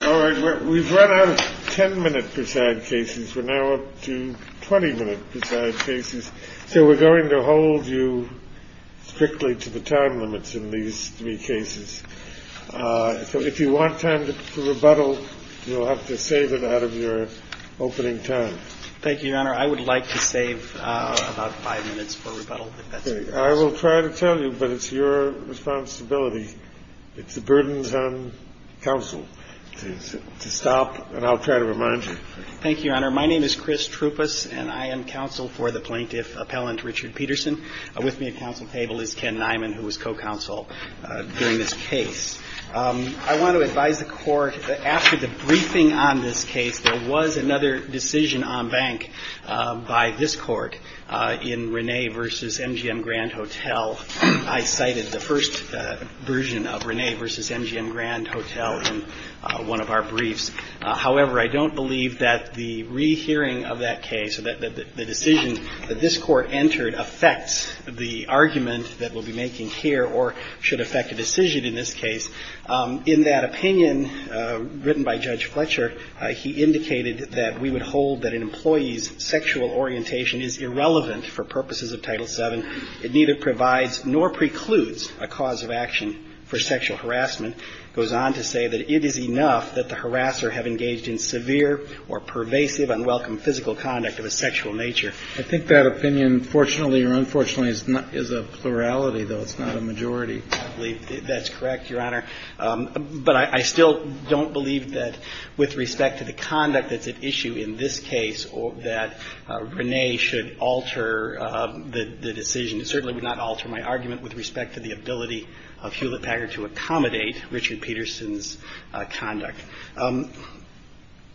All right, we've run out of 10-minute preside cases. We're now up to 20-minute preside cases. So we're going to hold you strictly to the time limits in these three cases. So if you want time for rebuttal, you'll have to save it out of your opening time. Thank you, Your Honor. I would like to save about five minutes for rebuttal, if that's okay. I will try to tell you, but it's your responsibility. It's the burdens on counsel to stop, and I'll try to remind you. Thank you, Your Honor. My name is Chris Troupas, and I am counsel for the plaintiff, Appellant Richard Peterson. With me at counsel table is Ken Nyman, who was co-counsel during this case. I want to advise the Court that after the briefing on this case, there was another decision on bank by this Court in Rene v. MGM Grand Hotel. I cited the first version of Rene v. MGM Grand Hotel in one of our briefs. However, I don't believe that the rehearing of that case, the decision that this Court entered, affects the argument that we'll be making here or should affect a decision in this case. In that opinion written by Judge Fletcher, he indicated that we would hold that an employee's sexual orientation is irrelevant for purposes of Title VII. It neither provides nor precludes a cause of action for sexual harassment. It goes on to say that it is enough that the harasser have engaged in severe or pervasive, unwelcome physical conduct of a sexual nature. I think that opinion, fortunately or unfortunately, is a plurality, though. It's not a majority. I believe that's correct, Your Honor. But I still don't believe that with respect to the conduct that's at issue in this case, that Rene should alter the decision. It certainly would not alter my argument with respect to the ability of Hewlett-Packard to accommodate Richard Peterson's conduct.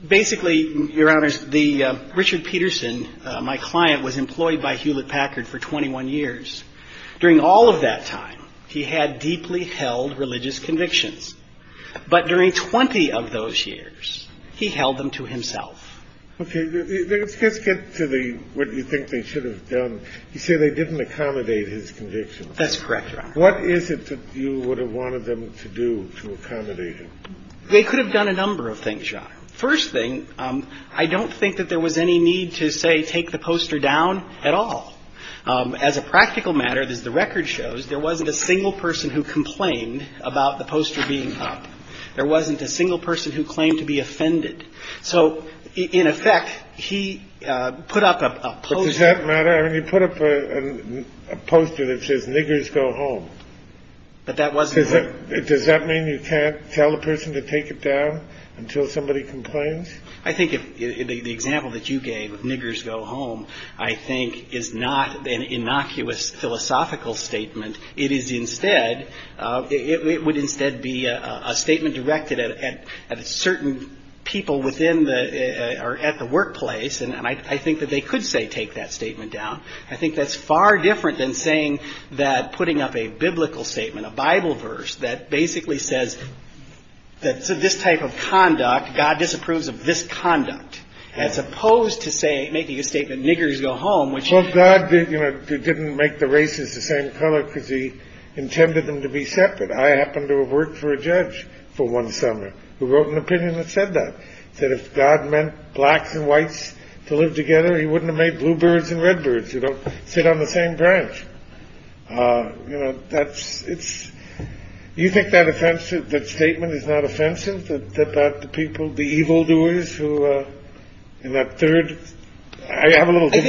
Basically, Your Honors, the Richard Peterson, my client, was employed by Hewlett-Packard for 21 years. During all of that time, he had deeply held religious convictions. But during 20 of those years, he held them to himself. Okay. Let's get to the what you think they should have done. You say they didn't accommodate his convictions. That's correct, Your Honor. What is it that you would have wanted them to do to accommodate him? They could have done a number of things, Your Honor. First thing, I don't think that there was any need to, say, take the poster down at all. As a practical matter, as the record shows, there wasn't a single person who complained about the poster being up. There wasn't a single person who claimed to be offended. So, in effect, he put up a poster. But does that matter? I mean, you put up a poster that says, niggers go home. But that wasn't. Does that mean you can't tell a person to take it down until somebody complains? I think the example that you gave, niggers go home, I think is not an innocuous philosophical statement. It is instead, it would instead be a statement directed at certain people within or at the workplace. And I think that they could say, take that statement down. I think that's far different than saying that putting up a biblical statement, a Bible verse that basically says that this type of conduct, God disapproves of this conduct. As opposed to say, making a statement, niggers go home. Well, God didn't make the races the same color because he intended them to be separate. I happen to have worked for a judge for one summer who wrote an opinion that said that said if God meant blacks and whites to live together, he wouldn't have made bluebirds and redbirds sit on the same branch. That's it's you think that offensive that statement is not offensive that the people, the evil doers who in that third. I have a little. I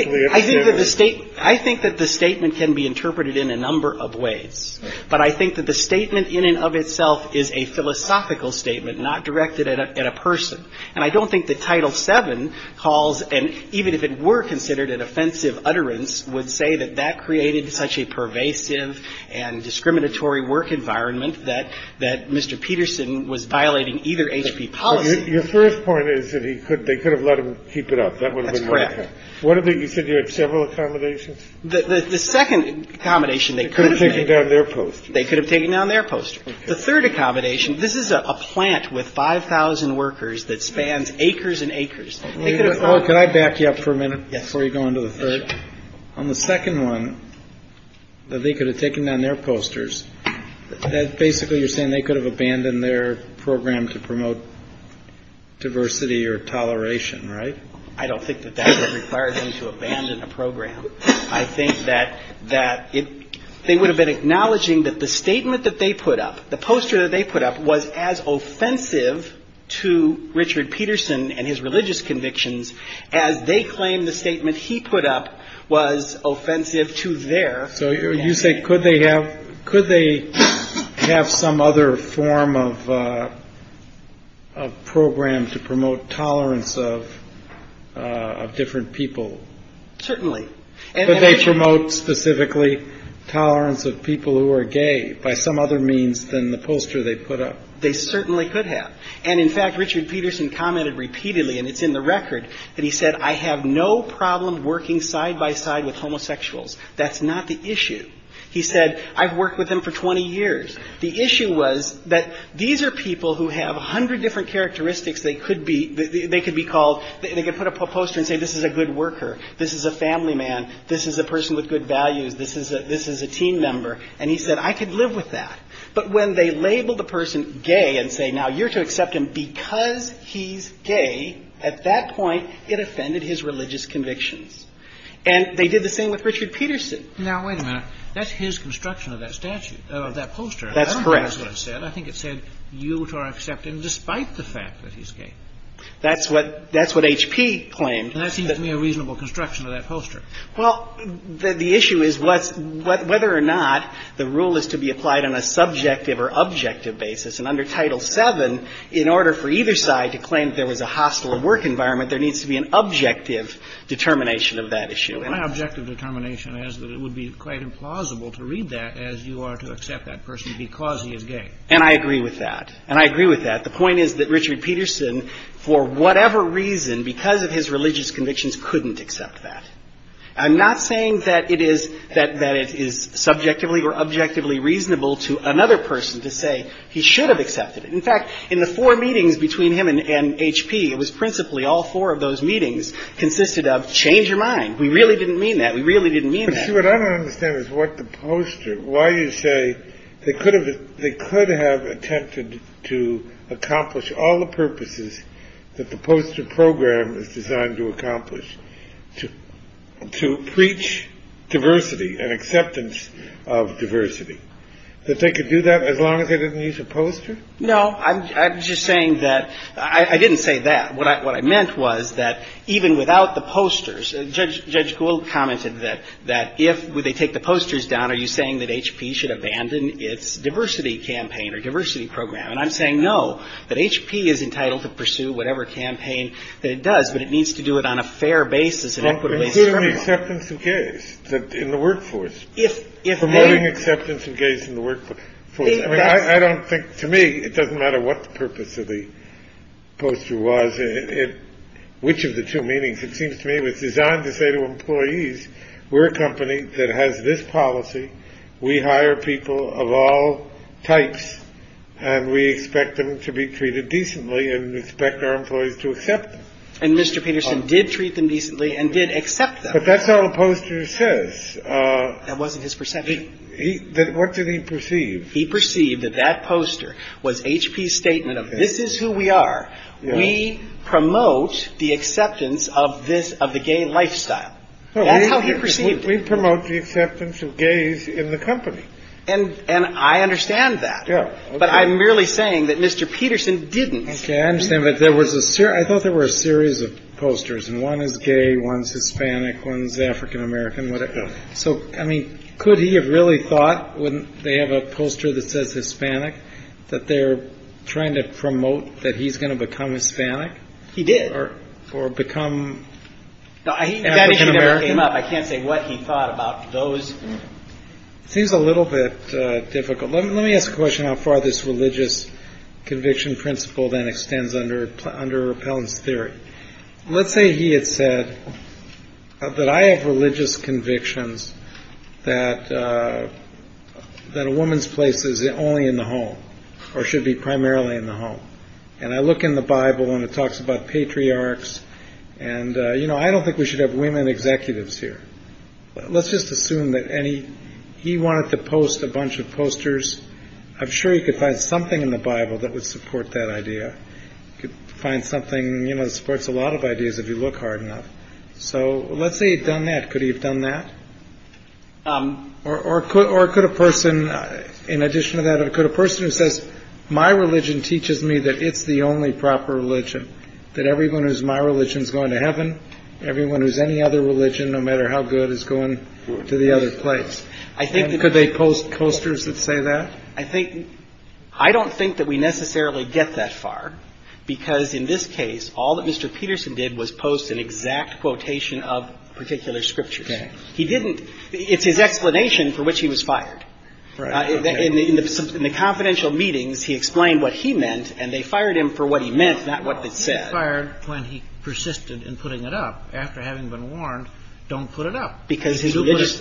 think that the state. I think that the statement can be interpreted in a number of ways. But I think that the statement in and of itself is a philosophical statement, not directed at a person. And I don't think the title seven calls. And even if it were considered an offensive utterance, would say that that created such a pervasive and discriminatory work environment that that Mr. Peterson was violating either HP policy. Your first point is that he could they could have let him keep it up. That would have been what you said. You had several accommodations that the second accommodation they could have taken down their post. They could have taken down their post. The third accommodation. This is a plant with five thousand workers that spans acres and acres. Oh, can I back you up for a minute before you go into the third on the second one that they could have taken down their posters that basically you're abandon their program to promote diversity or toleration. Right. I don't think that that would require them to abandon a program. I think that that they would have been acknowledging that the statement that they put up, the poster that they put up was as offensive to Richard Peterson and his religious convictions as they claim the statement he put up was offensive to their. So you say could they have could they have some other form of a program to promote tolerance of different people? Certainly. And they promote specifically tolerance of people who are gay by some other means than the poster they put up. They certainly could have. And in fact, Richard Peterson commented repeatedly and it's in the record that he said, I have no problem working side by side with homosexuals. That's not the issue. He said, I've worked with them for 20 years. The issue was that these are people who have a hundred different characteristics. They could be they could be called. They could put up a poster and say, this is a good worker. This is a family man. This is a person with good values. This is a this is a team member. And he said, I could live with that. But when they label the person gay and say, now you're to accept him because he's gay. At that point, it offended his religious convictions. And they did the same with Richard Peterson. Now, wait a minute. That's his construction of that statute of that poster. That's correct. I think it said you to accept him despite the fact that he's gay. That's what that's what HP claimed. And that seems to me a reasonable construction of that poster. Well, the issue is what's what whether or not the rule is to be applied on a subjective or objective basis. And under Title VII, in order for either side to claim there was a hostile work environment, there needs to be an objective determination of that issue. An objective determination is that it would be quite implausible to read that as you are to accept that person because he is gay. And I agree with that. And I agree with that. The point is that Richard Peterson, for whatever reason, because of his religious convictions, couldn't accept that. I'm not saying that it is that that it is subjectively or objectively reasonable to another person to say he should have accepted it. In fact, in the four meetings between him and HP, it was principally all four of those meetings consisted of change your mind. We really didn't mean that. We really didn't mean that. But I don't understand is what the poster. Why you say they could have they could have attempted to accomplish all the purposes that the poster program is designed to accomplish, to to preach diversity and acceptance of diversity, that they could do that as long as they didn't use a poster? No, I'm just saying that I didn't say that. What I meant was that even without the posters, Judge Gould commented that that if they take the posters down, are you saying that HP should abandon its diversity campaign or diversity program? And I'm saying, no, that HP is entitled to pursue whatever campaign that it does. But it needs to do it on a fair basis and equitably accepted in the workforce. If if promoting acceptance of gays in the workforce, I don't think to me it doesn't matter what the purpose of the poster was. It which of the two meanings it seems to me was designed to say to employees, we're a company that has this policy. We hire people of all types and we expect them to be treated decently and expect our employees to accept. And Mr. Peterson did treat them decently and did accept that. But that's all the poster says. That wasn't his perception that what did he perceive? He perceived that that poster was HP statement of this is who we are. We promote the acceptance of this, of the gay lifestyle. That's how he perceived we promote the acceptance of gays in the company. And and I understand that. Yeah. But I'm merely saying that Mr. Peterson didn't understand that there was a I thought there were a series of posters and one is gay, one's Hispanic, one's African-American. So, I mean, could he have really thought when they have a poster that says Hispanic, that they're trying to promote that he's going to become Hispanic? He did or or become an American? I can't say what he thought about those. Seems a little bit difficult. Let me ask a question. How far this religious conviction principle then extends under under repellent theory. Let's say he had said that I have religious convictions that that a woman's place is only in the home or should be primarily in the home. And I look in the Bible and it talks about patriarchs. And, you know, I don't think we should have women executives here. Let's just assume that any he wanted to post a bunch of posters. I'm sure you could find something in the Bible that would support that idea. Could find something, you know, sports, a lot of ideas if you look hard enough. So let's say he'd done that. Could he have done that? Or could or could a person. In addition to that, it could a person who says my religion teaches me that it's the only proper religion that everyone who's my religion is going to heaven. Everyone who's any other religion, no matter how good is going to the other place. I think that they post posters that say that. I think I don't think that we necessarily get that far, because in this case, all that Mr. Peterson did was post an exact quotation of particular scriptures. He didn't. It's his explanation for which he was fired in the confidential meetings. He explained what he meant and they fired him for what he meant, not what they said fired when he persisted in putting it up after having been warned. Don't put it up because if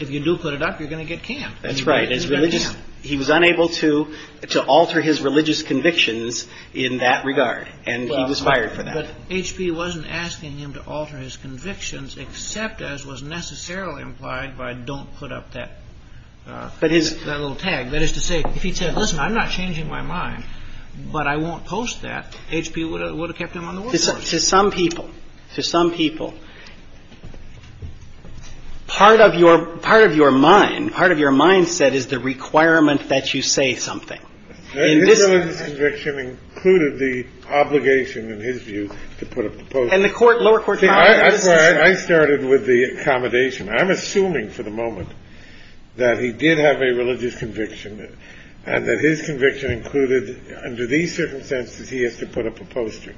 you do put it up, you're going to get camp. That's right. It's religious. He was unable to to alter his religious convictions in that regard. And he was fired for that. HP wasn't asking him to alter his convictions, except as was necessarily implied by don't put up that. But his little tag, that is to say, if he said, listen, I'm not changing my mind, but I won't post that. H.P. would have kept him on the watch. To some people, to some people. Part of your part of your mind, part of your mindset is the requirement that you say something in this direction included the obligation, in his view, to put up and the court lower court, I started with the accommodation. I'm assuming for the moment that he did have a religious conviction and that his conviction included under these circumstances, he has to put up a poster.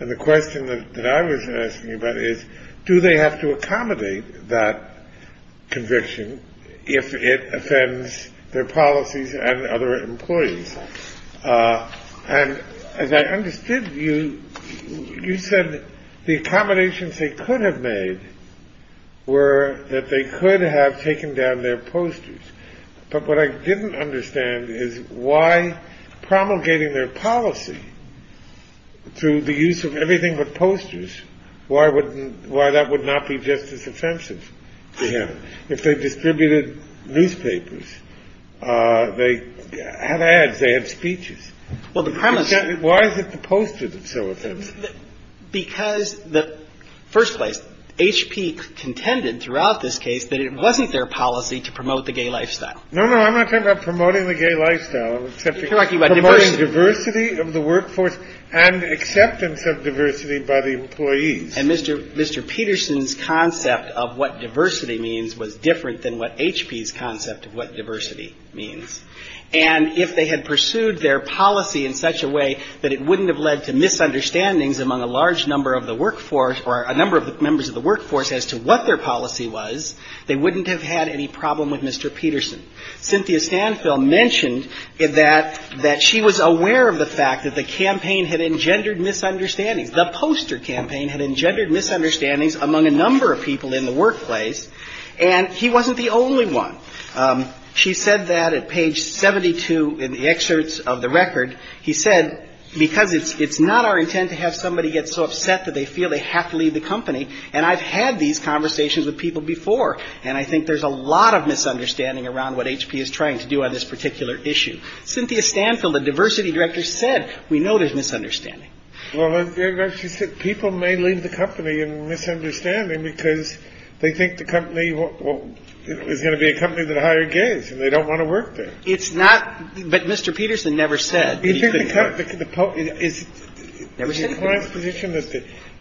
And the question that I was asking about is, do they have to accommodate that conviction if it offends their policies and other employees? And as I understood you, you said the accommodations they could have made were that they could have taken down their posters. But what I didn't understand is why promulgating their policy through the use of everything but posters. Why wouldn't why that would not be just as offensive to him if they distributed newspapers? They have ads. They have speeches. Well, the premise. Why is it the posters? Because the first place HP contended throughout this case that it wasn't their policy to promote the gay lifestyle. No, no, I'm not talking about promoting the gay lifestyle. I'm talking about diversity of the workforce and acceptance of diversity by the employees. And Mr. Mr. Peterson's concept of what diversity means was different than what HP's concept of what diversity means. And if they had pursued their policy in such a way that it wouldn't have led to misunderstandings among a large number of the workforce or a number of members of the workforce as to what their policy was, they wouldn't have had any problem with Mr. Peterson. Cynthia Stanfill mentioned that that she was aware of the fact that the campaign had engendered misunderstandings. The poster campaign had engendered misunderstandings among a number of people in the workplace. And he wasn't the only one. She said that at page 72 in the excerpts of the record. He said, because it's it's not our intent to have somebody get so upset that they feel they have to leave the company. And I've had these conversations with people before. And I think there's a lot of misunderstanding around what HP is trying to do on this particular issue. Cynthia Stanfill, the diversity director, said, we know there's misunderstanding. Well, as you said, people may leave the company in misunderstanding because they think the company is going to be a company that hired gays and they don't want to work there. It's not. But Mr. Peterson never said that the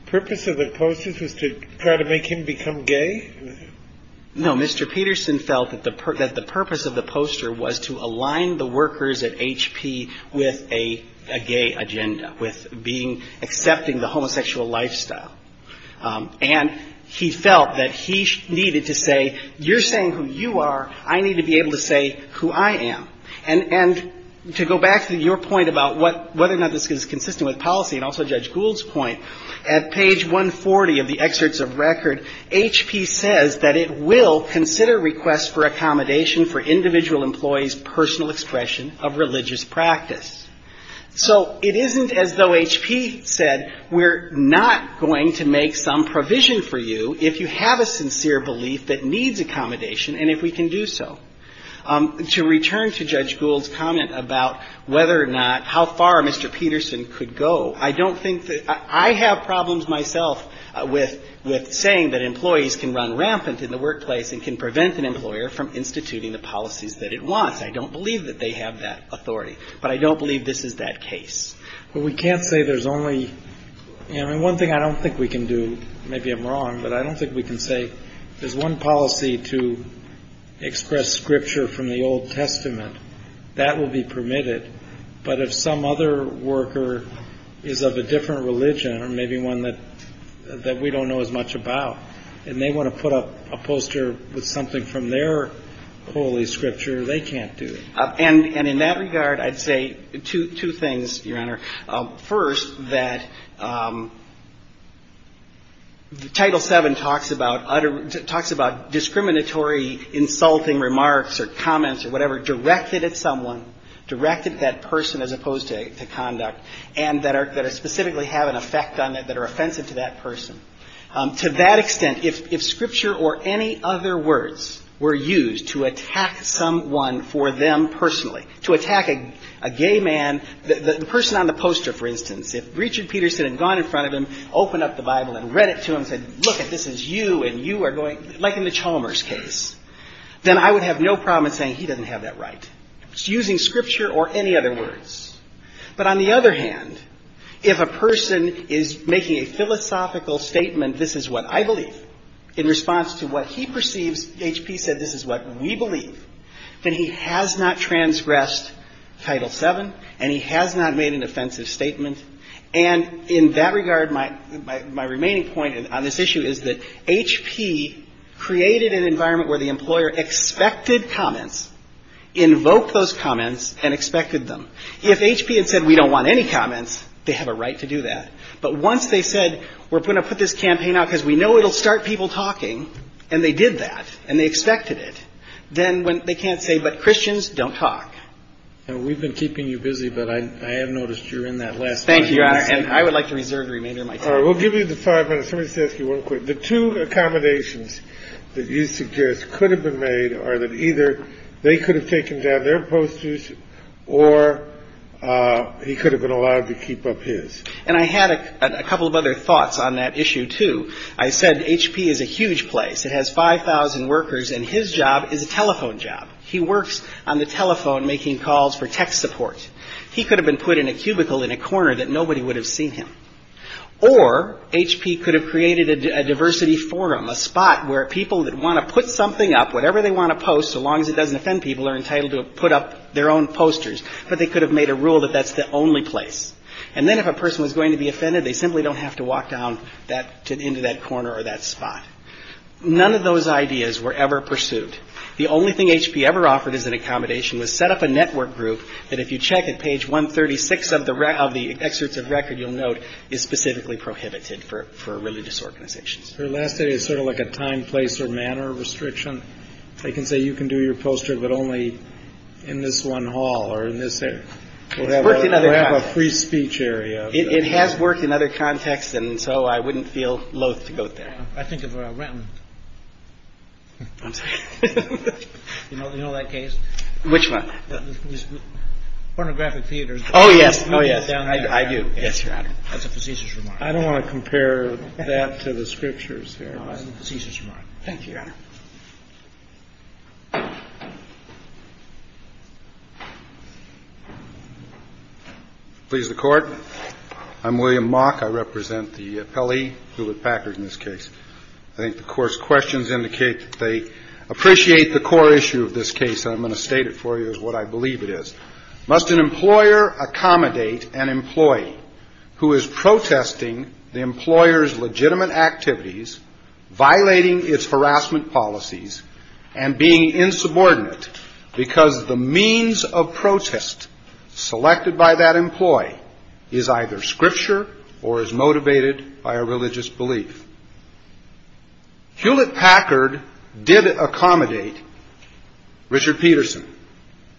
purpose of the posters was to try to make him become gay. No, Mr. Peterson felt that the purpose of the poster was to align the workers at HP with a gay agenda, with being accepting the homosexual lifestyle. And he felt that he needed to say, you're saying who you are. I need to be able to say who I am. And to go back to your point about what whether or not this is consistent with policy and also Judge Gould's point at page 140 of the excerpts of record, HP says that it will consider requests for accommodation for individual employees' personal expression of religious practice. So it isn't as though HP said, we're not going to make some provision for you if you have a sincere belief that needs accommodation and if we can do so. To return to Judge Gould's comment about whether or not how far Mr. Peterson could go, I don't think that I have problems myself with with saying that employees can run rampant in the workplace and can prevent an employer from instituting the policies that it wants. I don't believe that they have that authority, but I don't believe this is that case. But we can't say there's only one thing I don't think we can do. Maybe I'm wrong, but I don't think we can say there's one policy to express scripture from the Old Testament that will be permitted. But if some other worker is of a different religion or maybe one that we don't know as much about and they want to put up a poster with something from their holy scripture, they can't do it. And in that regard, I'd say two things, Your Honor. First, that Title VII talks about discriminatory, insulting remarks or comments or whatever directed at someone, directed at that person as opposed to conduct, and that specifically have an effect on it that are offensive to that person. To that extent, if scripture or any other words were used to attack someone for them personally, to attack a gay man, the person on the poster, for instance, if Richard Peterson had gone in front of him, opened up the Bible and read it to him and said, look, this is you and you are going, like in the Chalmers case, then I would have no problem in saying he doesn't have that right. It's using scripture or any other words. But on the other hand, if a person is making a philosophical statement, this is what I believe, in response to what he perceives, HP said, this is what we believe, then he has not transgressed Title VII and he has not made an offensive statement. And in that regard, my remaining point on this issue is that HP created an environment where the employer expected comments, invoked those comments and expected them. If HP had said we don't want any comments, they have a right to do that. But once they said we're going to put this campaign out because we know it'll start people talking and they did that and they expected it, then when they can't say but Christians don't talk and we've been keeping you busy. But I have noticed you're in that last. Thank you. And I would like to reserve the remainder of my time. We'll give you the five minutes. Let me just ask you one quick. The two accommodations that you suggest could have been made are that either they could have taken down their posters or he could have been allowed to keep up his. And I had a couple of other thoughts on that issue, too. I said HP is a huge place. It has 5000 workers and his job is a telephone job. He works on the telephone making calls for tech support. He could have been put in a cubicle in a corner that nobody would have seen him. Or HP could have created a diversity forum, a spot where people that want to put something up, whatever they want to post, so long as it doesn't offend people, are entitled to put up their own posters. But they could have made a rule that that's the only place. And then if a person was going to be offended, they simply don't have to walk down that into that corner or that spot. None of those ideas were ever pursued. The only thing HP ever offered as an accommodation was set up a network group that if you check at page one thirty six of the of the excerpts of record, you'll note is specifically prohibited for for religious organizations. Her last day is sort of like a time, place or manner restriction. They can say you can do your poster, but only in this one hall or in this area. We'll have a free speech area. It has worked in other contexts. And so I wouldn't feel loath to go there. I think of around, you know, you know, that case, which one? Pornographic theaters. Oh, yes. Oh, yes. I do. Yes, Your Honor. That's a facetious remark. I don't want to compare that to the scriptures here. Facetious remark. Thank you, Your Honor. Please, the court. I'm William Mock. I represent the appellee, Hewlett Packard, in this case. I think the court's questions indicate that they appreciate the core issue of this case. I'm going to state it for you is what I believe it is. Must an employer accommodate an employee who is protesting the employer's legitimate activities, violating its harassment policies and being insubordinate because the means of protest selected by that employee is either scripture or is motivated by a religious belief. Hewlett Packard did accommodate Richard Peterson.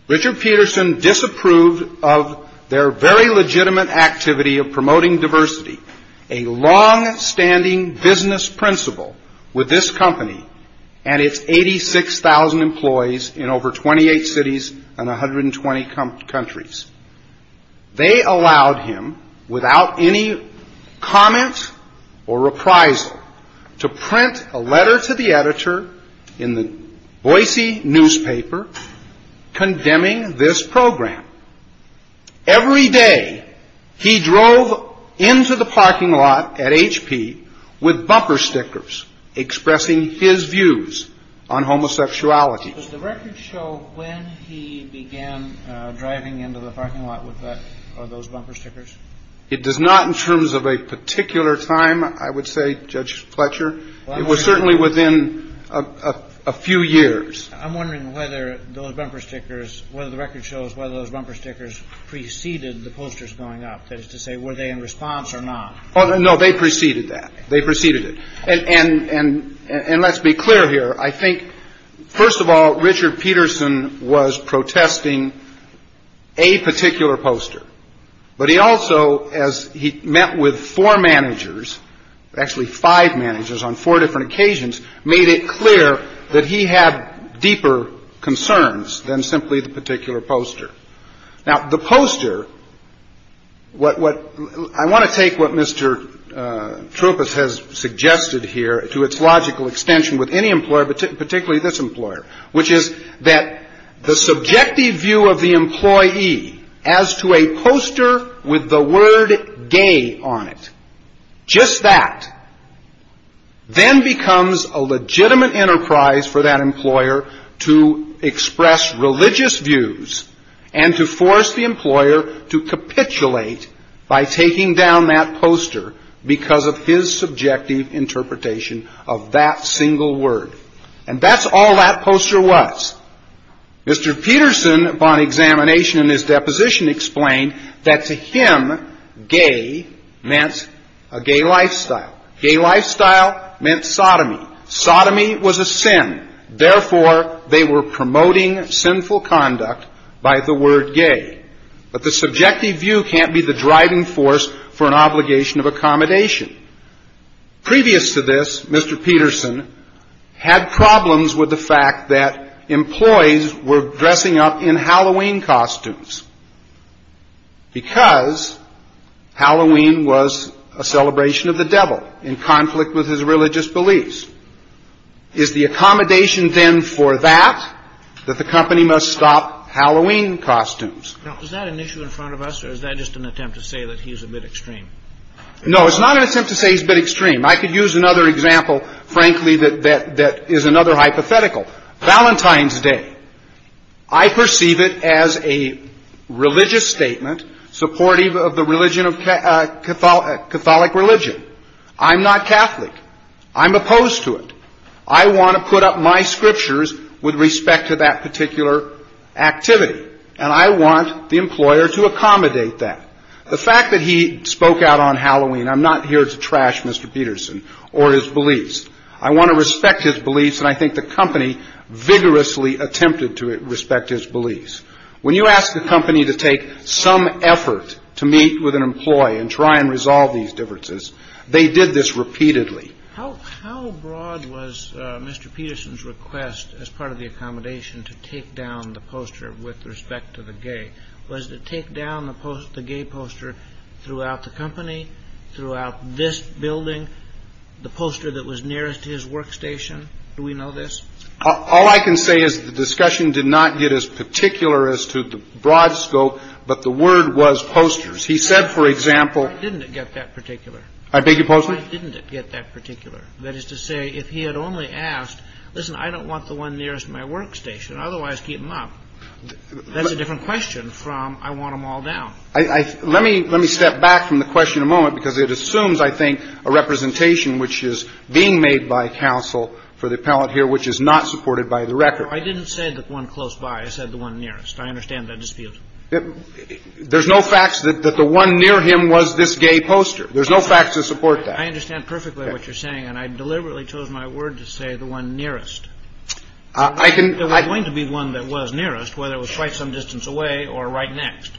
Richard Peterson disapproved of their very legitimate activity of promoting diversity, a long standing business principle with this company and its 86000 employees in over 28 cities and 120 countries. They allowed him without any comment or reprisal to print a letter to the editor in the Boise newspaper condemning this program. Every day he drove into the parking lot at HP with bumper stickers expressing his views on homosexuality. Does the record show when he began driving into the parking lot with that or those bumper stickers? It does not in terms of a particular time, I would say, Judge Fletcher. It was certainly within a few years. I'm wondering whether those bumper stickers, whether the record shows whether those bumper stickers preceded the posters going up. That is to say, were they in response or not? Oh, no, they preceded that. They preceded it. And let's be clear here, I think, first of all, Richard Peterson was protesting a particular poster, but he also, as he met with four managers, actually five managers on four different occasions, made it clear that he had deeper concerns than simply the particular poster. Now, the poster, I want to take what Mr. Troopis has suggested here to its logical extension with any employer, particularly this employer, which is that the subjective view of the employee as to a poster with the word gay on it, just that, then becomes a legitimate enterprise for that employer to express religious views and to force the employer to capitulate by taking down that poster because of his subjective interpretation of that single word. And that's all that poster was. Mr. Peterson, upon examination in his deposition, explained that to him, gay meant a gay lifestyle. Gay lifestyle meant sodomy. Sodomy was a sin. Therefore, they were promoting sinful conduct by the word gay. But the subjective view can't be the driving force for an obligation of accommodation. Previous to this, Mr. Peterson had problems with the fact that employees were dressing up in Halloween costumes because Halloween was a celebration of the devil. In conflict with his religious beliefs. Is the accommodation then for that, that the company must stop Halloween costumes? Is that an issue in front of us or is that just an attempt to say that he's a bit extreme? No, it's not an attempt to say he's a bit extreme. I could use another example, frankly, that that that is another hypothetical. Valentine's Day. I perceive it as a religious statement supportive of the religion of Catholic religion. I'm not Catholic. I'm opposed to it. I want to put up my scriptures with respect to that particular activity and I want the employer to accommodate that. The fact that he spoke out on Halloween. I'm not here to trash Mr. Peterson or his beliefs. I want to respect his beliefs and I think the company vigorously attempted to respect his beliefs. When you ask the company to take some effort to meet with an employee and try and resolve these differences, they did this repeatedly. How how broad was Mr. Peterson's request as part of the accommodation to take down the poster with respect to the gay? Was it take down the post, the gay poster throughout the company, throughout this building, the poster that was nearest to his workstation? Do we know this? All I can say is the discussion did not get as particular as to the broad scope. But the word was posters. He said, for example, didn't get that particular. I beg your pardon. Didn't get that particular. That is to say, if he had only asked, listen, I don't want the one nearest my workstation. Otherwise, keep them up. That's a different question from I want them all down. I let me let me step back from the question a moment because it assumes, I think, a representation which is being made by counsel for the appellate here, which is not supported by the record. I didn't say that one close by. I said the one nearest. I understand that dispute. There's no facts that the one near him was this gay poster. There's no facts to support that. I understand perfectly what you're saying. And I deliberately chose my word to say the one nearest. I can I going to be one that was nearest, whether it was quite some distance away or right next.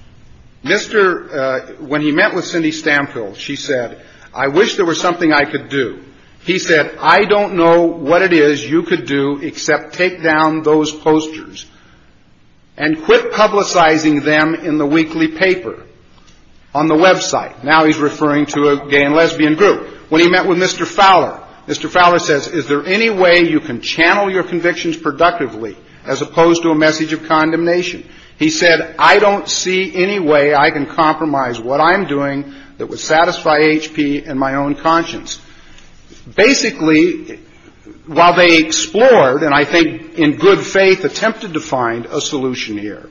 Mr. When he met with Cindy Stamphill, she said, I wish there were something I could do. He said, I don't know what it is you could do except take down those posters and quit publicizing them in the weekly paper on the website. Now he's referring to a gay and lesbian group. When he met with Mr. Fowler, Mr. Fowler says, is there any way you can channel your convictions productively as opposed to a message of condemnation? He said, I don't see any way I can compromise what I'm doing that would satisfy HP and my own conscience. Basically, while they explored and I think in good faith attempted to find a solution here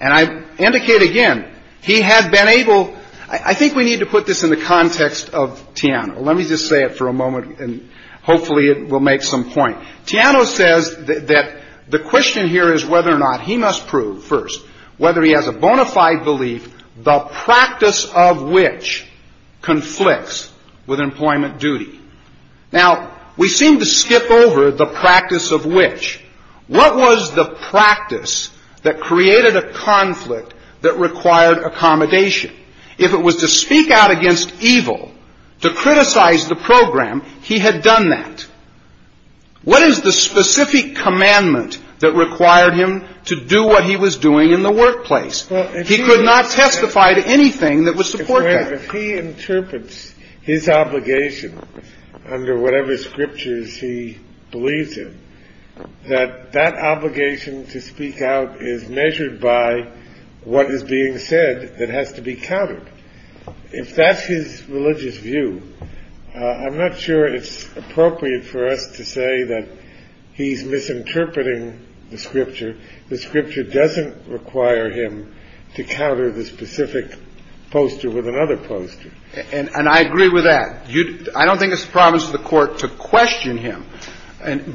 and I indicate again, he had been able. I think we need to put this in the context of Tiana. Let me just say it for a moment and hopefully it will make some point. Tiana says that the question here is whether or not he must prove first whether he has a bona fide belief, the practice of which conflicts with employment duty. Now, we seem to skip over the practice of which. What was the practice that created a conflict that required accommodation? If it was to speak out against evil, to criticize the program, he had done that. What is the specific commandment that required him to do what he was doing in the workplace? He could not testify to anything that would support that. If he interprets his obligation under whatever scriptures he believes in, that that obligation to speak out is measured by what is being said that has to be counted. If that's his religious view, I'm not sure it's appropriate for us to say that he's misinterpreting the scripture. The scripture doesn't require him to counter the specific poster with another poster. And I agree with that. I don't think it's the province of the court to question him.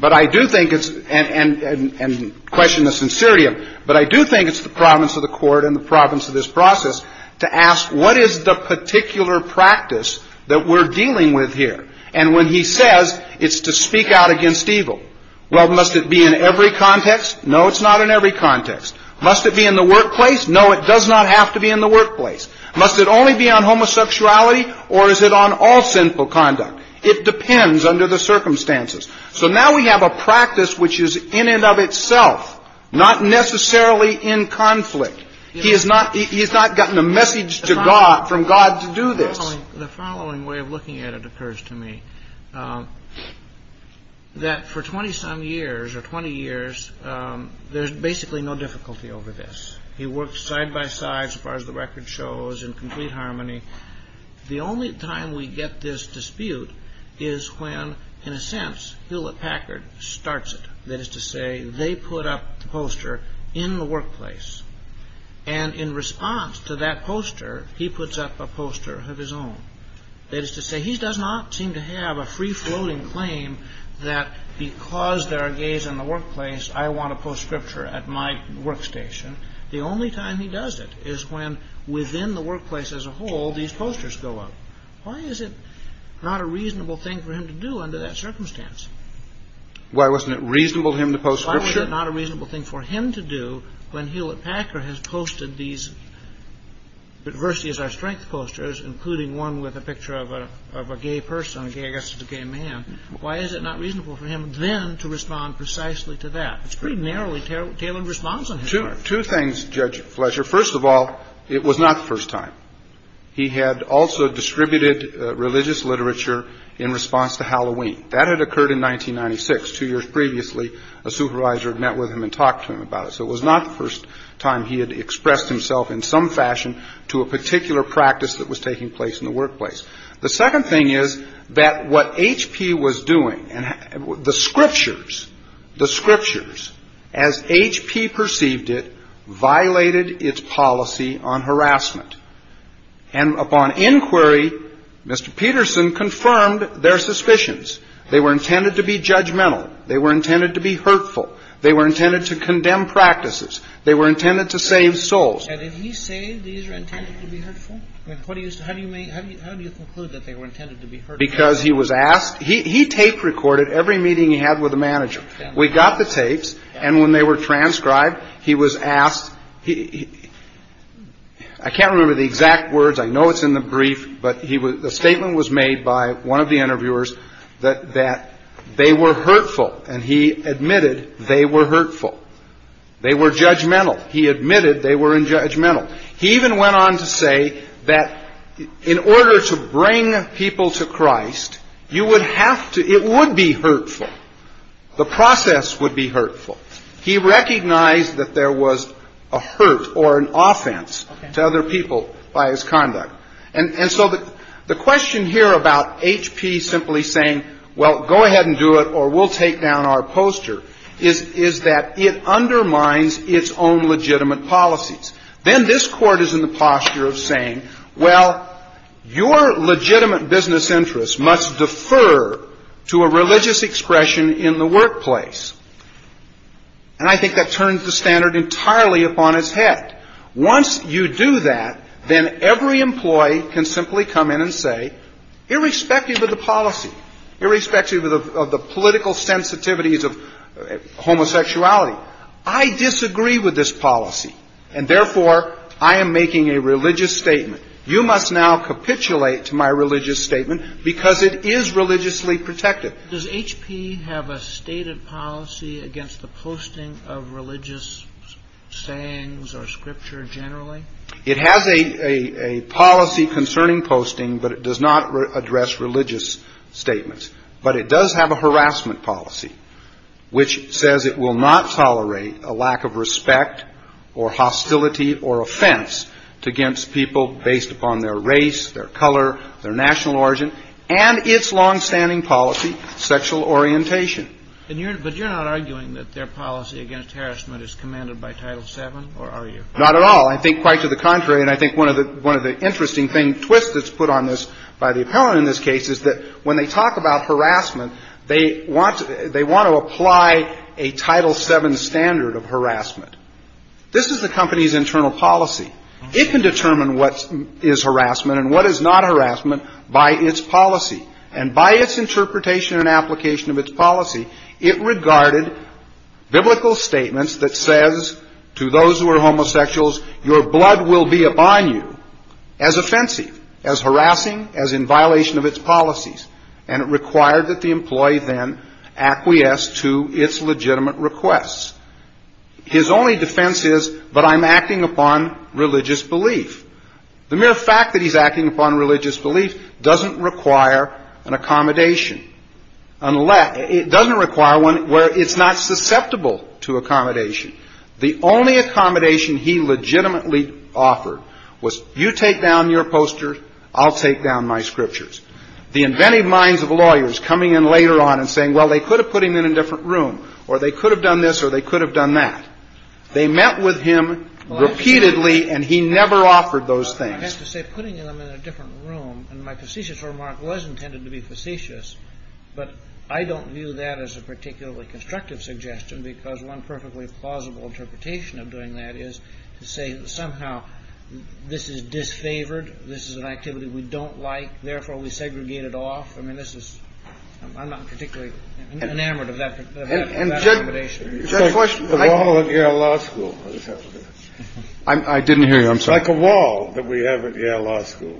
But I do think it's and question the sincerity of. But I do think it's the province of the court and the province of this process to ask, what is the particular practice that we're dealing with here? And when he says it's to speak out against evil. Well, must it be in every context? No, it's not in every context. Must it be in the workplace? No, it does not have to be in the workplace. Must it only be on homosexuality or is it on all sinful conduct? It depends under the circumstances. So now we have a practice which is in and of itself, not necessarily in conflict. He is not. He's not gotten a message to God from God to do this. The following way of looking at it occurs to me that for 20 some years or 20 years, there's basically no difficulty over this. He works side by side as far as the record shows in complete harmony. The only time we get this dispute is when, in a sense, Hewlett Packard starts it. That is to say, they put up the poster in the workplace. And in response to that poster, he puts up a poster of his own. That is to say, he does not seem to have a free floating claim that because there are gays in the workplace, I want to post scripture at my workstation. The only time he does it is when within the workplace as a whole, these posters go up. Why is it not a reasonable thing for him to do under that circumstance? Why wasn't it reasonable him to post scripture? Not a reasonable thing for him to do when Hewlett Packard has posted these. Diversity is our strength posters, including one with a picture of a of a gay person, a gay man. Why is it not reasonable for him then to respond precisely to that? It's pretty narrowly tailored response to two things, Judge Fletcher. First of all, it was not the first time he had also distributed religious literature in response to Halloween. That had occurred in 1996, two years previously. A supervisor had met with him and talked to him about it. So it was not the first time he had expressed himself in some fashion to a particular practice that was taking place in the workplace. The second thing is that what HP was doing and the scriptures, the scriptures, as HP perceived it, violated its policy on harassment. And upon inquiry, Mr. Peterson confirmed their suspicions. They were intended to be judgmental. They were intended to be hurtful. They were intended to condemn practices. They were intended to save souls. And if he say these are intended to be hurtful, what do you say? How do you make? How do you conclude that they were intended to be hurtful? Because he was asked. He tape recorded every meeting he had with the manager. We got the tapes. And when they were transcribed, he was asked. I can't remember the exact words. I know it's in the brief. But he was the statement was made by one of the interviewers that that they were hurtful and he admitted they were hurtful. They were judgmental. He admitted they were in judgmental. He even went on to say that in order to bring people to Christ, you would have to. It would be hurtful. The process would be hurtful. He recognized that there was a hurt or an offense to other people by his conduct. And so the question here about H.P. simply saying, well, go ahead and do it or we'll take down our poster is is that it undermines its own legitimate policies. Then this court is in the posture of saying, well, your legitimate business interests must defer to a religious expression in the workplace. And I think that turns the standard entirely upon his head. Once you do that, then every employee can simply come in and say, irrespective of the policy, irrespective of the political sensitivities of homosexuality, I disagree with this policy and therefore I am making a religious statement. You must now capitulate to my religious statement because it is religiously protected. Does H.P. have a stated policy against the posting of religious sayings or scripture generally? It has a policy concerning posting, but it does not address religious statements. But it does have a harassment policy which says it will not tolerate a lack of respect or hostility or offense against people based upon their race, their color, their national origin. And it's longstanding policy, sexual orientation. And you're but you're not arguing that their policy against harassment is commanded by Title 7 or are you? Not at all. I think quite to the contrary. And I think one of the one of the interesting thing twist that's put on this by the appellant in this case is that when they talk about harassment, they want they want to apply a Title 7 standard of harassment. This is the company's internal policy. It can determine what is harassment and what is not harassment by its policy and by its interpretation and application of its policy. It regarded biblical statements that says to those who are homosexuals, your blood will be upon you as offensive, as harassing, as in violation of its policies. And it required that the employee then acquiesce to its legitimate requests. His only defense is, but I'm acting upon religious belief. The mere fact that he's acting upon religious belief doesn't require an accommodation unless it doesn't require one where it's not susceptible to accommodation. The only accommodation he legitimately offered was you take down your poster. I'll take down my scriptures. The inventive minds of lawyers coming in later on and saying, well, they could have put him in a different room or they could have done this or they could have done that. They met with him repeatedly and he never offered those things to say, putting them in a different room. And my facetious remark was intended to be facetious. But I don't view that as a particularly constructive suggestion, because one perfectly plausible interpretation of doing that is to say somehow this is disfavored. This is an activity we don't like. Therefore, we segregate it off. I mean, this is I'm not particularly enamored of that. And just a question. I hear a law school. I didn't hear you. I'm sorry. Like a wall that we have at Yale Law School.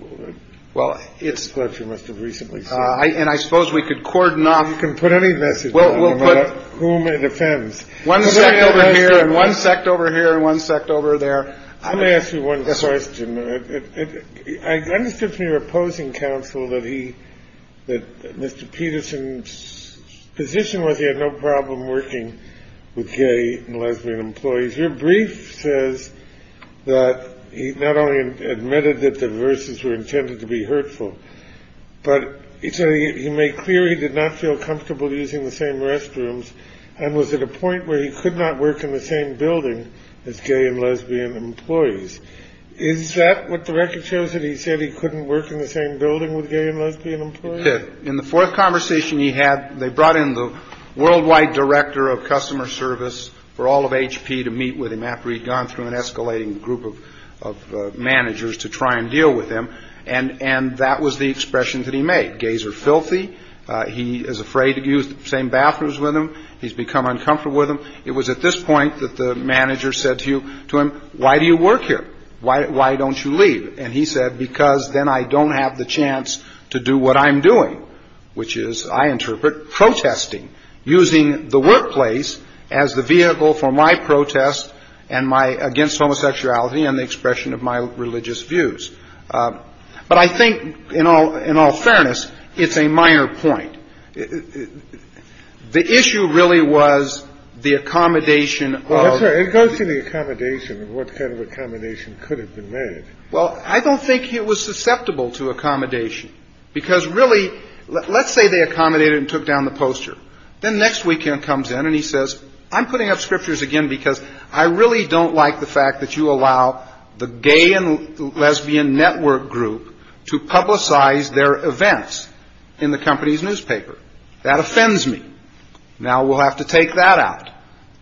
Well, it's what you must have recently. And I suppose we could cordon off. You can put any message. Well, we'll put. Whom it offends. One over here and one sect over here and one sect over there. I may ask you one question. I understood from your opposing counsel that he that Mr. Peterson's position was he had no problem working with gay and lesbian employees. Your brief says that he not only admitted that the verses were intended to be hurtful, but he made clear he did not feel comfortable using the same restrooms and was at a point where he could not work in the same building as gay and lesbian employees. Is that what the record shows that he said he couldn't work in the same building with gay and lesbian employees in the fourth conversation he had? They brought in the worldwide director of customer service for all of HP to meet with him after he'd gone through an escalating group of managers to try and deal with him. And and that was the expression that he made. Gays are filthy. He is afraid to use the same bathrooms with him. He's become uncomfortable with him. It was at this point that the manager said to you to him, why do you work here? Why? Why don't you leave? And he said, because then I don't have the chance to do what I'm doing, which is, I interpret protesting using the workplace as the vehicle for my protest and my against homosexuality and the expression of my religious views. But I think, you know, in all fairness, it's a minor point. It the issue really was the accommodation of the accommodation and what kind of accommodation could have been made. Well, I don't think he was susceptible to accommodation because really, let's say they accommodated and took down the poster. Then next weekend comes in and he says, I'm putting up scriptures again because I really don't like the fact that you allow the gay and lesbian network group to publicize their events in the company's newspaper. That offends me. Now we'll have to take that out.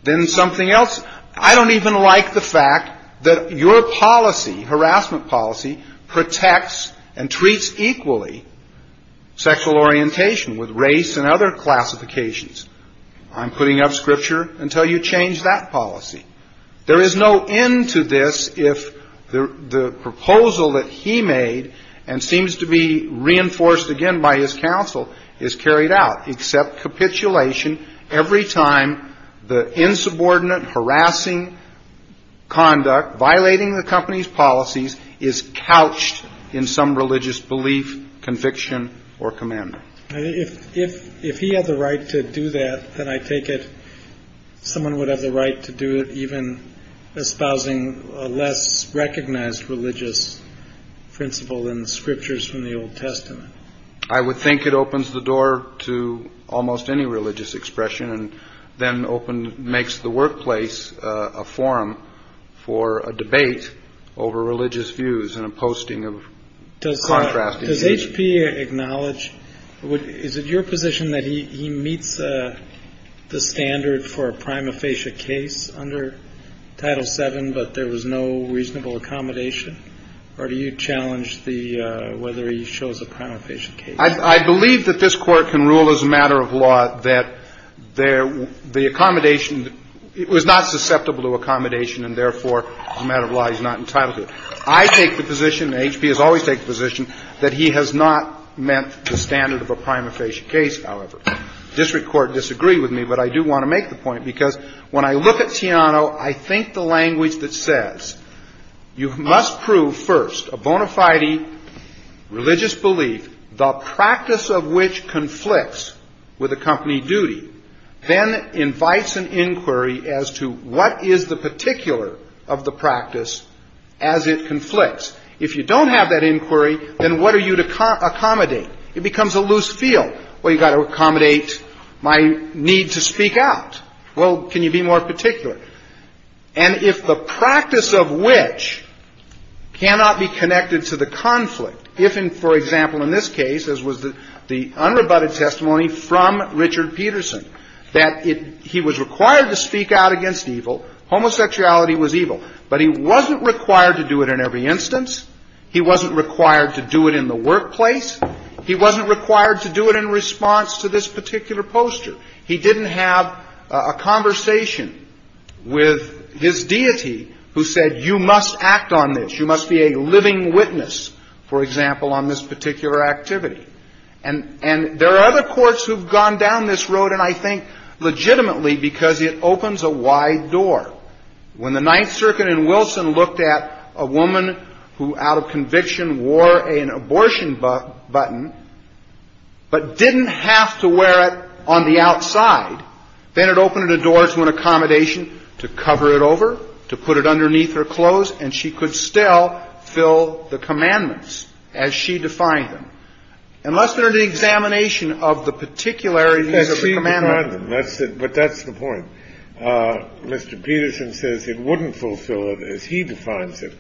Then something else. I don't even like the fact that your policy, harassment policy, protects and treats equally sexual orientation with race and other classifications. I'm putting up scripture until you change that policy. There is no end to this if the proposal that he made and seems to be reinforced again by his counsel is carried out, except capitulation. Every time the insubordinate harassing conduct violating the company's policies is couched in some religious belief, conviction or command. If if if he had the right to do that, then I take it someone would have the right to do it, even espousing a less recognized religious principle in the scriptures from the Old Testament. I would think it opens the door to almost any religious expression and then open makes the workplace a forum for a debate over religious views and a posting of. Does contrast is HP acknowledge what is it your position that he meets the standard for a prima facie case under Title seven, but there was no reasonable accommodation or do you challenge the whether he shows a prima facie case? I believe that this court can rule as a matter of law that there the accommodation was not susceptible to accommodation and therefore a matter of law is not entitled to it. I take the position HP is always take position that he has not met the standard of a prima facie case. However, this record disagree with me. But I do want to make the point, because when I look at Tiano, I think the language that says you must prove first a bona fide religious belief, the practice of which conflicts with the company duty, then invites an inquiry as to what is the particular of the practice as it conflicts. If you don't have that inquiry, then what are you to accommodate? It becomes a loose field where you've got to accommodate my need to speak out. Well, can you be more particular? And if the practice of which cannot be connected to the conflict, if, for example, in this case, as was the unrebutted testimony from Richard Peterson, that he was required to speak out against evil, homosexuality was evil, but he wasn't required to do it in every instance, he wasn't required to do it in the workplace, he wasn't required to do it in response to this particular posture. He didn't have a conversation with his deity who said, you must act on this, you must be a living witness, for example, on this particular activity. And there are other courts who've gone down this road, and I think legitimately because it opens a wide door. When the Ninth Circuit in Wilson looked at a woman who, out of conviction, wore an abortion button, but didn't have to wear it on the outside, then it opened a door to an accommodation to cover it over, to put it underneath her clothes, and she could still fill the commandments as she defined them, unless there's an examination of the particularities of the commandment. That's it. But that's the point. Mr. Peterson says it wouldn't fulfill it as he defines it,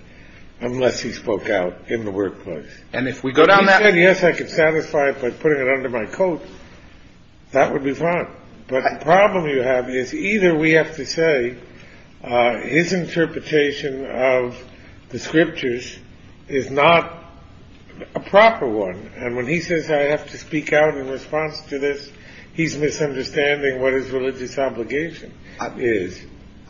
unless he spoke out in the workplace. And if we go down that road, yes, I could satisfy it by putting it under my coat. That would be fine. But the problem you have is either we have to say his interpretation of the scriptures is not a proper one. And when he says I have to speak out in response to this, he's misunderstanding what his religious obligation is.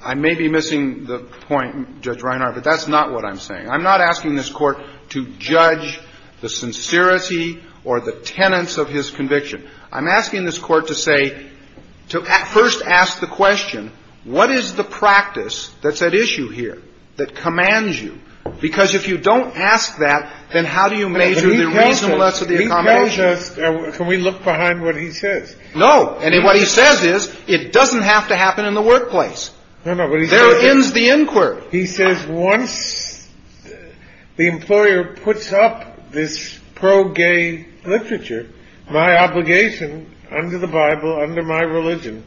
I may be missing the point, Judge Reinhart, but that's not what I'm saying. I'm not asking this court to judge the sincerity or the tenets of his conviction. I'm asking this court to say, to first ask the question, what is the practice that's at issue here that commands you? Because if you don't ask that, then how do you measure the reasonableness of the accommodation? Can we look behind what he says? No. And what he says is it doesn't have to happen in the workplace. No, no. There ends the inquiry. He says once the employer puts up this pro-gay literature, my obligation under the Bible, under my religion,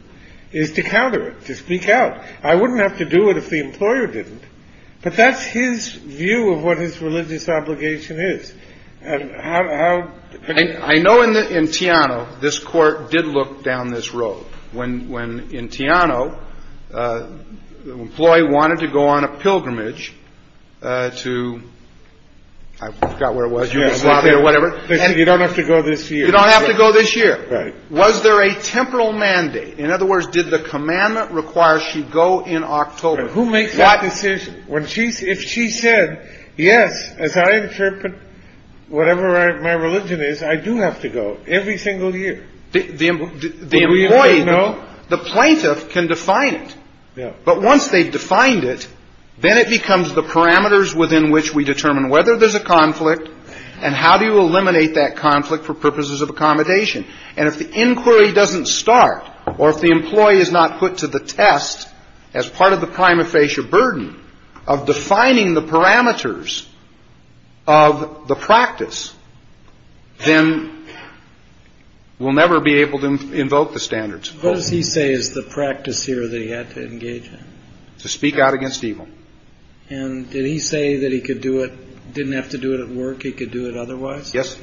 is to counter it, to speak out. I wouldn't have to do it if the employer didn't. But that's his view of what his religious obligation is. And I know in Tiano, this court did look down this road when in Tiano, the employee wanted to go on a pilgrimage to, I forgot where it was, Yugoslavia or whatever. You don't have to go this year. You don't have to go this year. Was there a temporal mandate? In other words, did the commandment require she go in October? Who makes that decision? When she's if she said, yes, as I interpret whatever my religion is, I do have to go every single year. The employee, the plaintiff can define it. But once they've defined it, then it becomes the parameters within which we determine whether there's a conflict. And how do you eliminate that conflict for purposes of accommodation? And if the inquiry doesn't start or if the employee is not put to the test as part of the prima facie burden of defining the parameters of the practice, then we'll never be able to invoke the standards. What does he say is the practice here that he had to engage in to speak out against evil? And did he say that he could do it? Didn't have to do it at work. He could do it otherwise. Yes.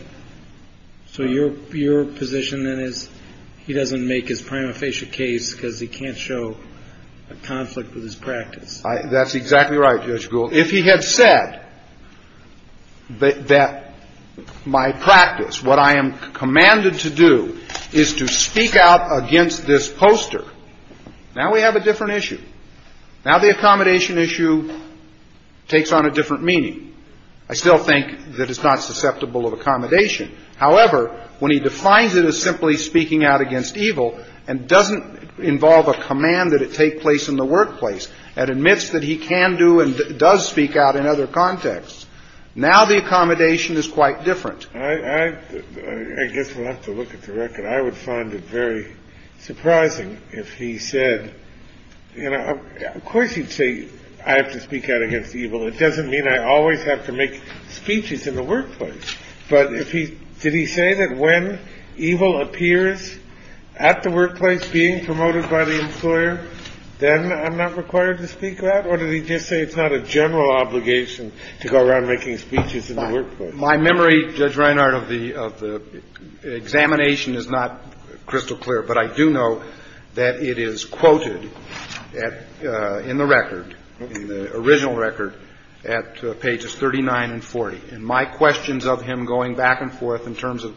So your your position then is he doesn't make his prima facie case because he can't show a conflict with his practice. That's exactly right. If he had said that my practice, what I am commanded to do is to speak out against this poster. Now we have a different issue. Now the accommodation issue takes on a different meaning. I still think that it's not susceptible of accommodation. However, when he defines it as simply speaking out against evil and doesn't involve a command that it take place in the workplace and admits that he can do and does speak out in other contexts. Now, the accommodation is quite different. I guess we'll have to look at the record. I would find it very surprising if he said, you know, of course, he'd say I have to speak out against evil. It doesn't mean I always have to make speeches in the workplace. But if he did, he say that when evil appears at the workplace being promoted by the employer, then I'm not required to speak out. Or did he just say it's not a general obligation to go around making speeches in the workplace? My memory, Judge Reinhardt, of the of the examination is not crystal clear. But I do know that it is quoted in the record in the original record at pages thirty nine and forty. And my questions of him going back and forth in terms of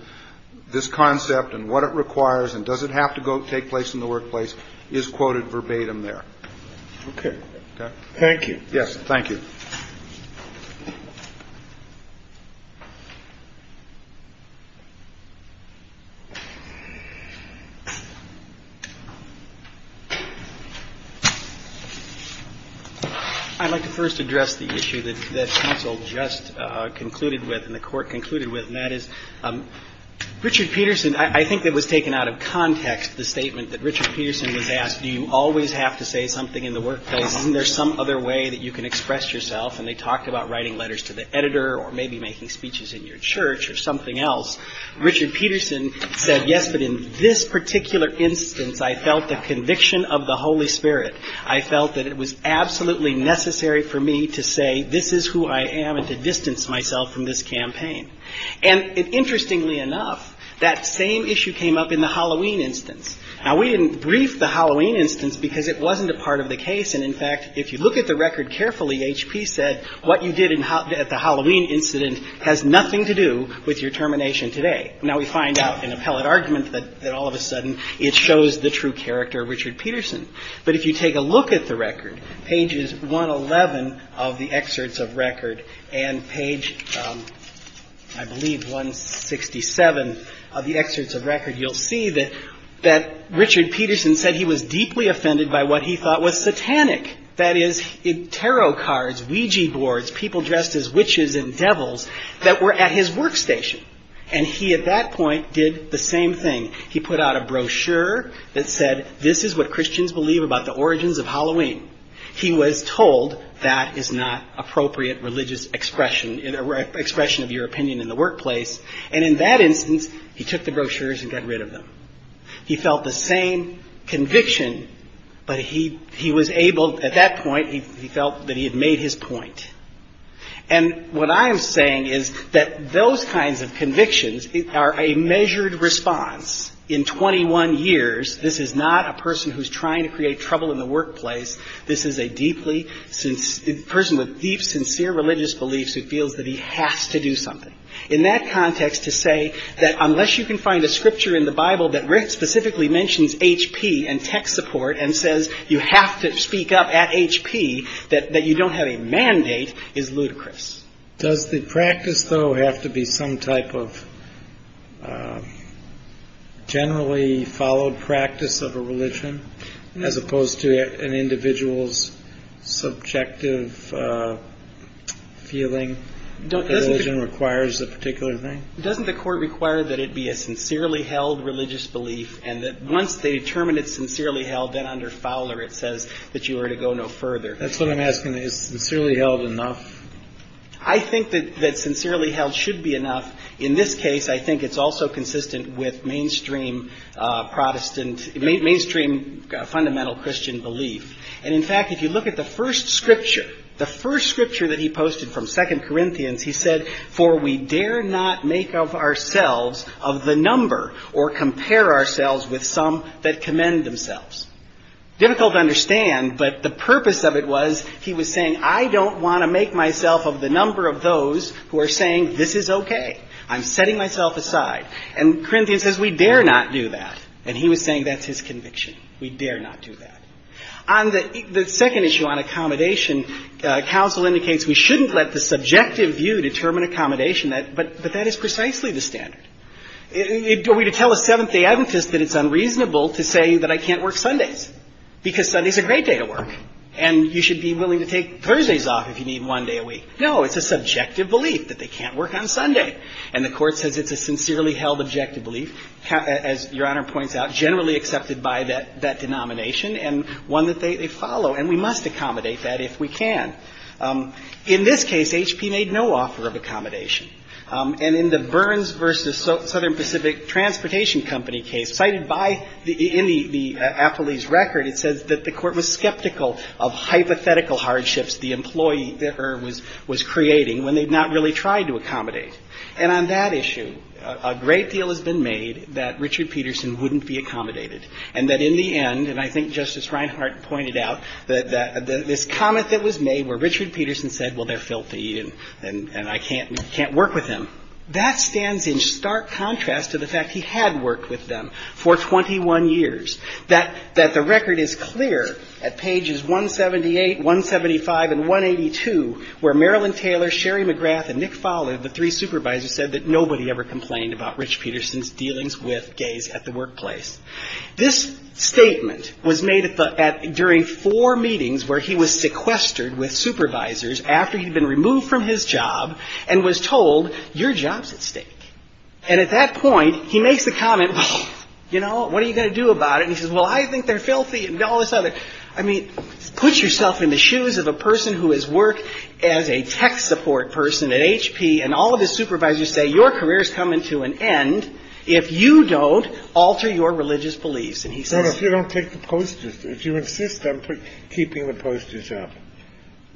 this concept and what it requires and doesn't have to go take place in the workplace is quoted verbatim there. OK. Thank you. Yes. Thank you. I'd like to first address the issue that the council just concluded with and the court concluded with, and that is Richard Peterson. I think that was taken out of context. The statement that Richard Peterson was asked, do you always have to say something in the workplace? Isn't there some other way that you can express yourself? And they talked about writing letters to the editor or maybe making speeches in your church or something else. Richard Peterson said, yes, but in this particular instance, I felt the conviction of the Holy Spirit. I felt that it was absolutely necessary for me to say this is who I am and to distance myself from this campaign. And interestingly enough, that same issue came up in the Halloween instance. Now, we didn't brief the Halloween instance because it wasn't a part of the case. And in fact, if you look at the record carefully, HP said what you did at the Halloween incident has nothing to do with your termination today. Now, we find out in appellate argument that all of a sudden it shows the true character of Richard Peterson. But if you take a look at the record, pages 111 of the excerpts of record and page, I believe, 167 of the excerpts of record, you'll see that that Richard Peterson said he was deeply offended by what he thought was satanic. That is, tarot cards, Ouija boards, people dressed as witches and devils that were at his workstation. And he at that point did the same thing. He put out a brochure that said this is what Christians believe about the origins of Halloween. He was told that is not appropriate religious expression, expression of your opinion in the workplace. And in that instance, he took the brochures and got rid of them. He felt the same conviction, but he was able at that point, he felt that he had made his point. And what I'm saying is that those kinds of convictions are a measured response. In 21 years, this is not a person who's trying to create trouble in the workplace. This is a deeply sincere person with deep, sincere religious beliefs who feels that he has to do something. In that context, to say that unless you can find a scripture in the Bible that specifically mentions HP and tech support and says you have to speak up at HP, that you don't have a mandate is ludicrous. Does the practice, though, have to be some type of generally followed practice of a religion as opposed to an individual's subjective feeling? Don't doesn't requires a particular thing. Doesn't the court require that it be a sincerely held religious belief and that once they determine it sincerely held that under Fowler, it says that you are to go no further. That's what I'm asking. Is sincerely held enough. I think that that sincerely held should be enough. In this case, I think it's also consistent with mainstream Protestant mainstream fundamental Christian belief. And in fact, if you look at the first scripture, the first scripture that he posted from second Corinthians, he said, for we dare not make of ourselves of the number or compare ourselves with some that commend themselves. Difficult to understand, but the purpose of it was he was saying, I don't want to make myself of the number of those who are saying this is OK. I'm setting myself aside. And Corinthians says we dare not do that. And he was saying that's his conviction. We dare not do that. On the second issue on accommodation, counsel indicates we shouldn't let the subjective view determine accommodation. But but that is precisely the standard. We to tell a seventh day Adventist that it's unreasonable to say that I can't work Sundays because Sunday's a great day to work and you should be willing to take Thursday's off if you need one day a week. No, it's a subjective belief that they can't work on Sunday. And the court says it's a sincerely held objective belief, as your honor points out, generally accepted by that that denomination and one that they follow. And we must accommodate that if we can. In this case, HP made no offer of accommodation. And in the Burns versus Southern Pacific Transportation Company case cited by the in the Applebee's record, it says that the court was skeptical of hypothetical hardships. The employee there was was creating when they'd not really tried to accommodate. And on that issue, a great deal has been made that Richard Peterson wouldn't be accommodated and that in the end. And I think Justice Reinhart pointed out that this comment that was made where Richard Peterson said, well, they're filthy and and I can't can't work with him. That stands in stark contrast to the fact he had worked with them for 21 years, that that the record is clear at pages 178, 175 and 182, where Marilyn Taylor, Sherry McGrath and Nick Fowler, the three supervisors said that nobody ever complained about Rich Peterson's dealings with gays at the workplace. This statement was made at that during four meetings where he was sequestered with supervisors after he'd been removed from his job and was told your job's at stake. And at that point, he makes the comment, you know, what are you going to do about it? And he says, well, I think they're filthy and all this other. I mean, put yourself in the shoes of a person who has worked as a tech support person at HP and all of his supervisors say your career is coming to an end. If you don't alter your religious beliefs and he said, if you don't take the posters, if you insist on keeping the posters up,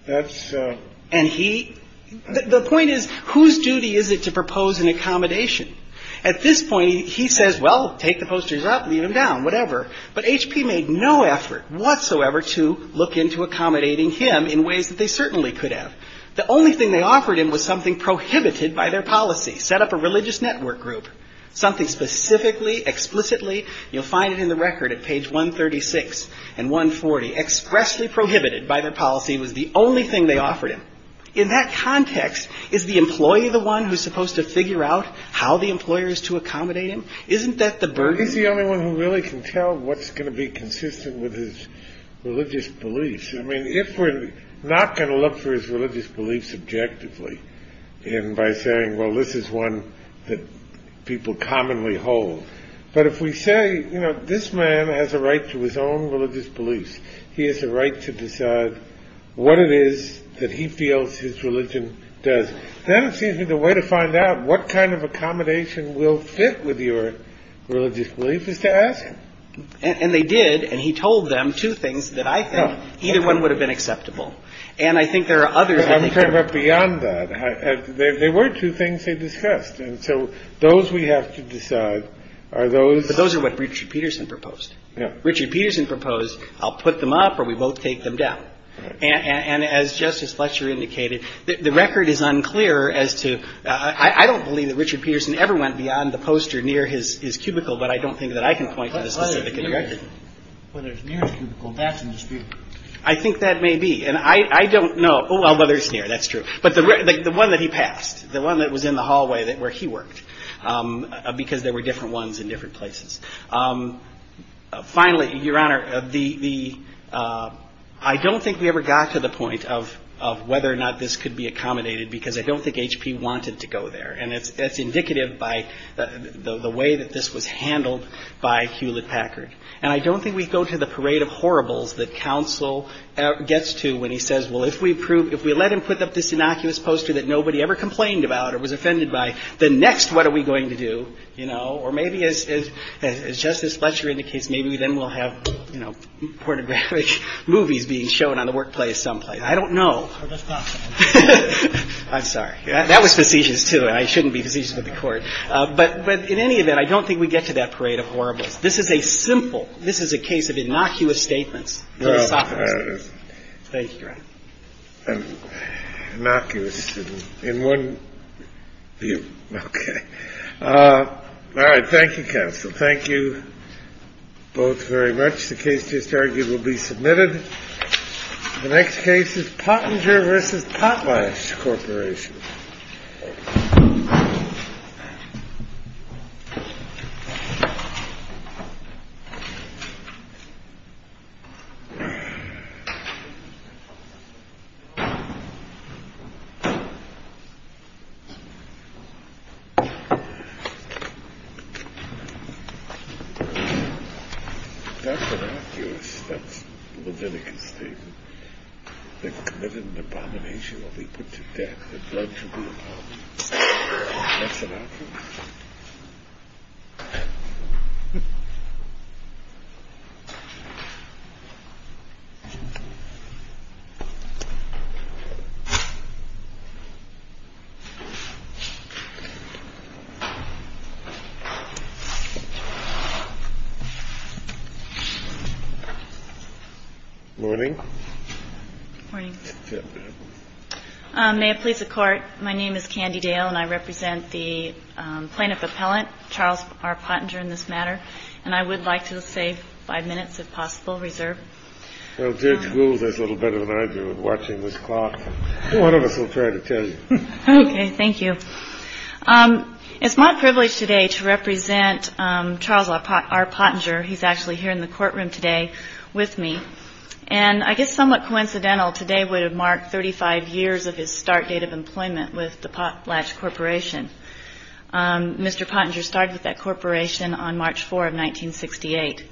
that's and he the point is, whose duty is it to propose an accommodation? At this point, he says, well, take the posters up, leave them down, whatever. But HP made no effort whatsoever to look into accommodating him in ways that they certainly could have. The only thing they offered him was something prohibited by their policy. Set up a religious network group, something specifically, explicitly. You'll find it in the record at page 136 and 140 expressly prohibited by their policy was the only thing they offered him in that context. Is the employee the one who's supposed to figure out how the employers to accommodate him? Isn't that the burden? He's the only one who really can tell what's going to be consistent with his religious beliefs. I mean, if we're not going to look for his religious beliefs objectively and by saying, well, this is one that people commonly hold. But if we say, you know, this man has a right to his own religious beliefs. He has a right to decide what it is that he feels his religion does. Then it seems to be the way to find out what kind of accommodation will fit with your religious belief is to ask. And they did. And he told them two things that I think either one would have been acceptable. And I think there are others beyond that. There were two things they discussed. And so those we have to decide are those. But those are what Richard Peterson proposed. Richard Peterson proposed, I'll put them up or we both take them down. And as Justice Fletcher indicated, the record is unclear as to I don't believe that Richard Peterson ever went beyond the poster near his cubicle. But I don't think that I can point to the specific. And I think that may be. And I don't know whether it's near. That's true. But the one that he passed, the one that was in the hallway where he worked, because there were different ones in different places. Finally, Your Honor, the I don't think we ever got to the point of of whether or not this could be accommodated, because I don't think HP wanted to go there. And it's indicative by the way that this was handled by Hewlett Packard. And I don't think we go to the parade of horribles that counsel gets to when he says, well, if we prove if we let him put up this innocuous poster that nobody ever complained about or was offended by the next, what are we going to do? You know, or maybe as Justice Fletcher indicates, maybe then we'll have, you know, pornographic movies being shown on the workplace someplace. I don't know. I'm sorry. That was facetious, too. And I shouldn't be facetious with the Court. But but in any event, I don't think we get to that parade of horribles. This is a simple this is a case of innocuous statements. Thank you, Your Honor. Innocuous in one view. OK. All right. Thank you, counsel. Thank you both very much. The case just argued will be submitted. The next case is Pottinger v. Potlatch Corporation. Thanks. Today, he committed an abomination, which was dead with blood bloodshed. My name is Candy Dale and I represent the plaintiff appellant, Charles R. Pottinger in this matter, and I would like to save five minutes, if possible, reserved. Well, Judge Gould is a little better than I do at watching this clock. One of us will try to tell you. Okay. Thank you. It's my privilege today to represent Charles R. Pottinger. He's actually here in the courtroom today with me. And I guess somewhat coincidental, today would have marked 35 years of his start date of working with the Potlatch Corporation. Mr. Pottinger started with that corporation on March 4 of 1968.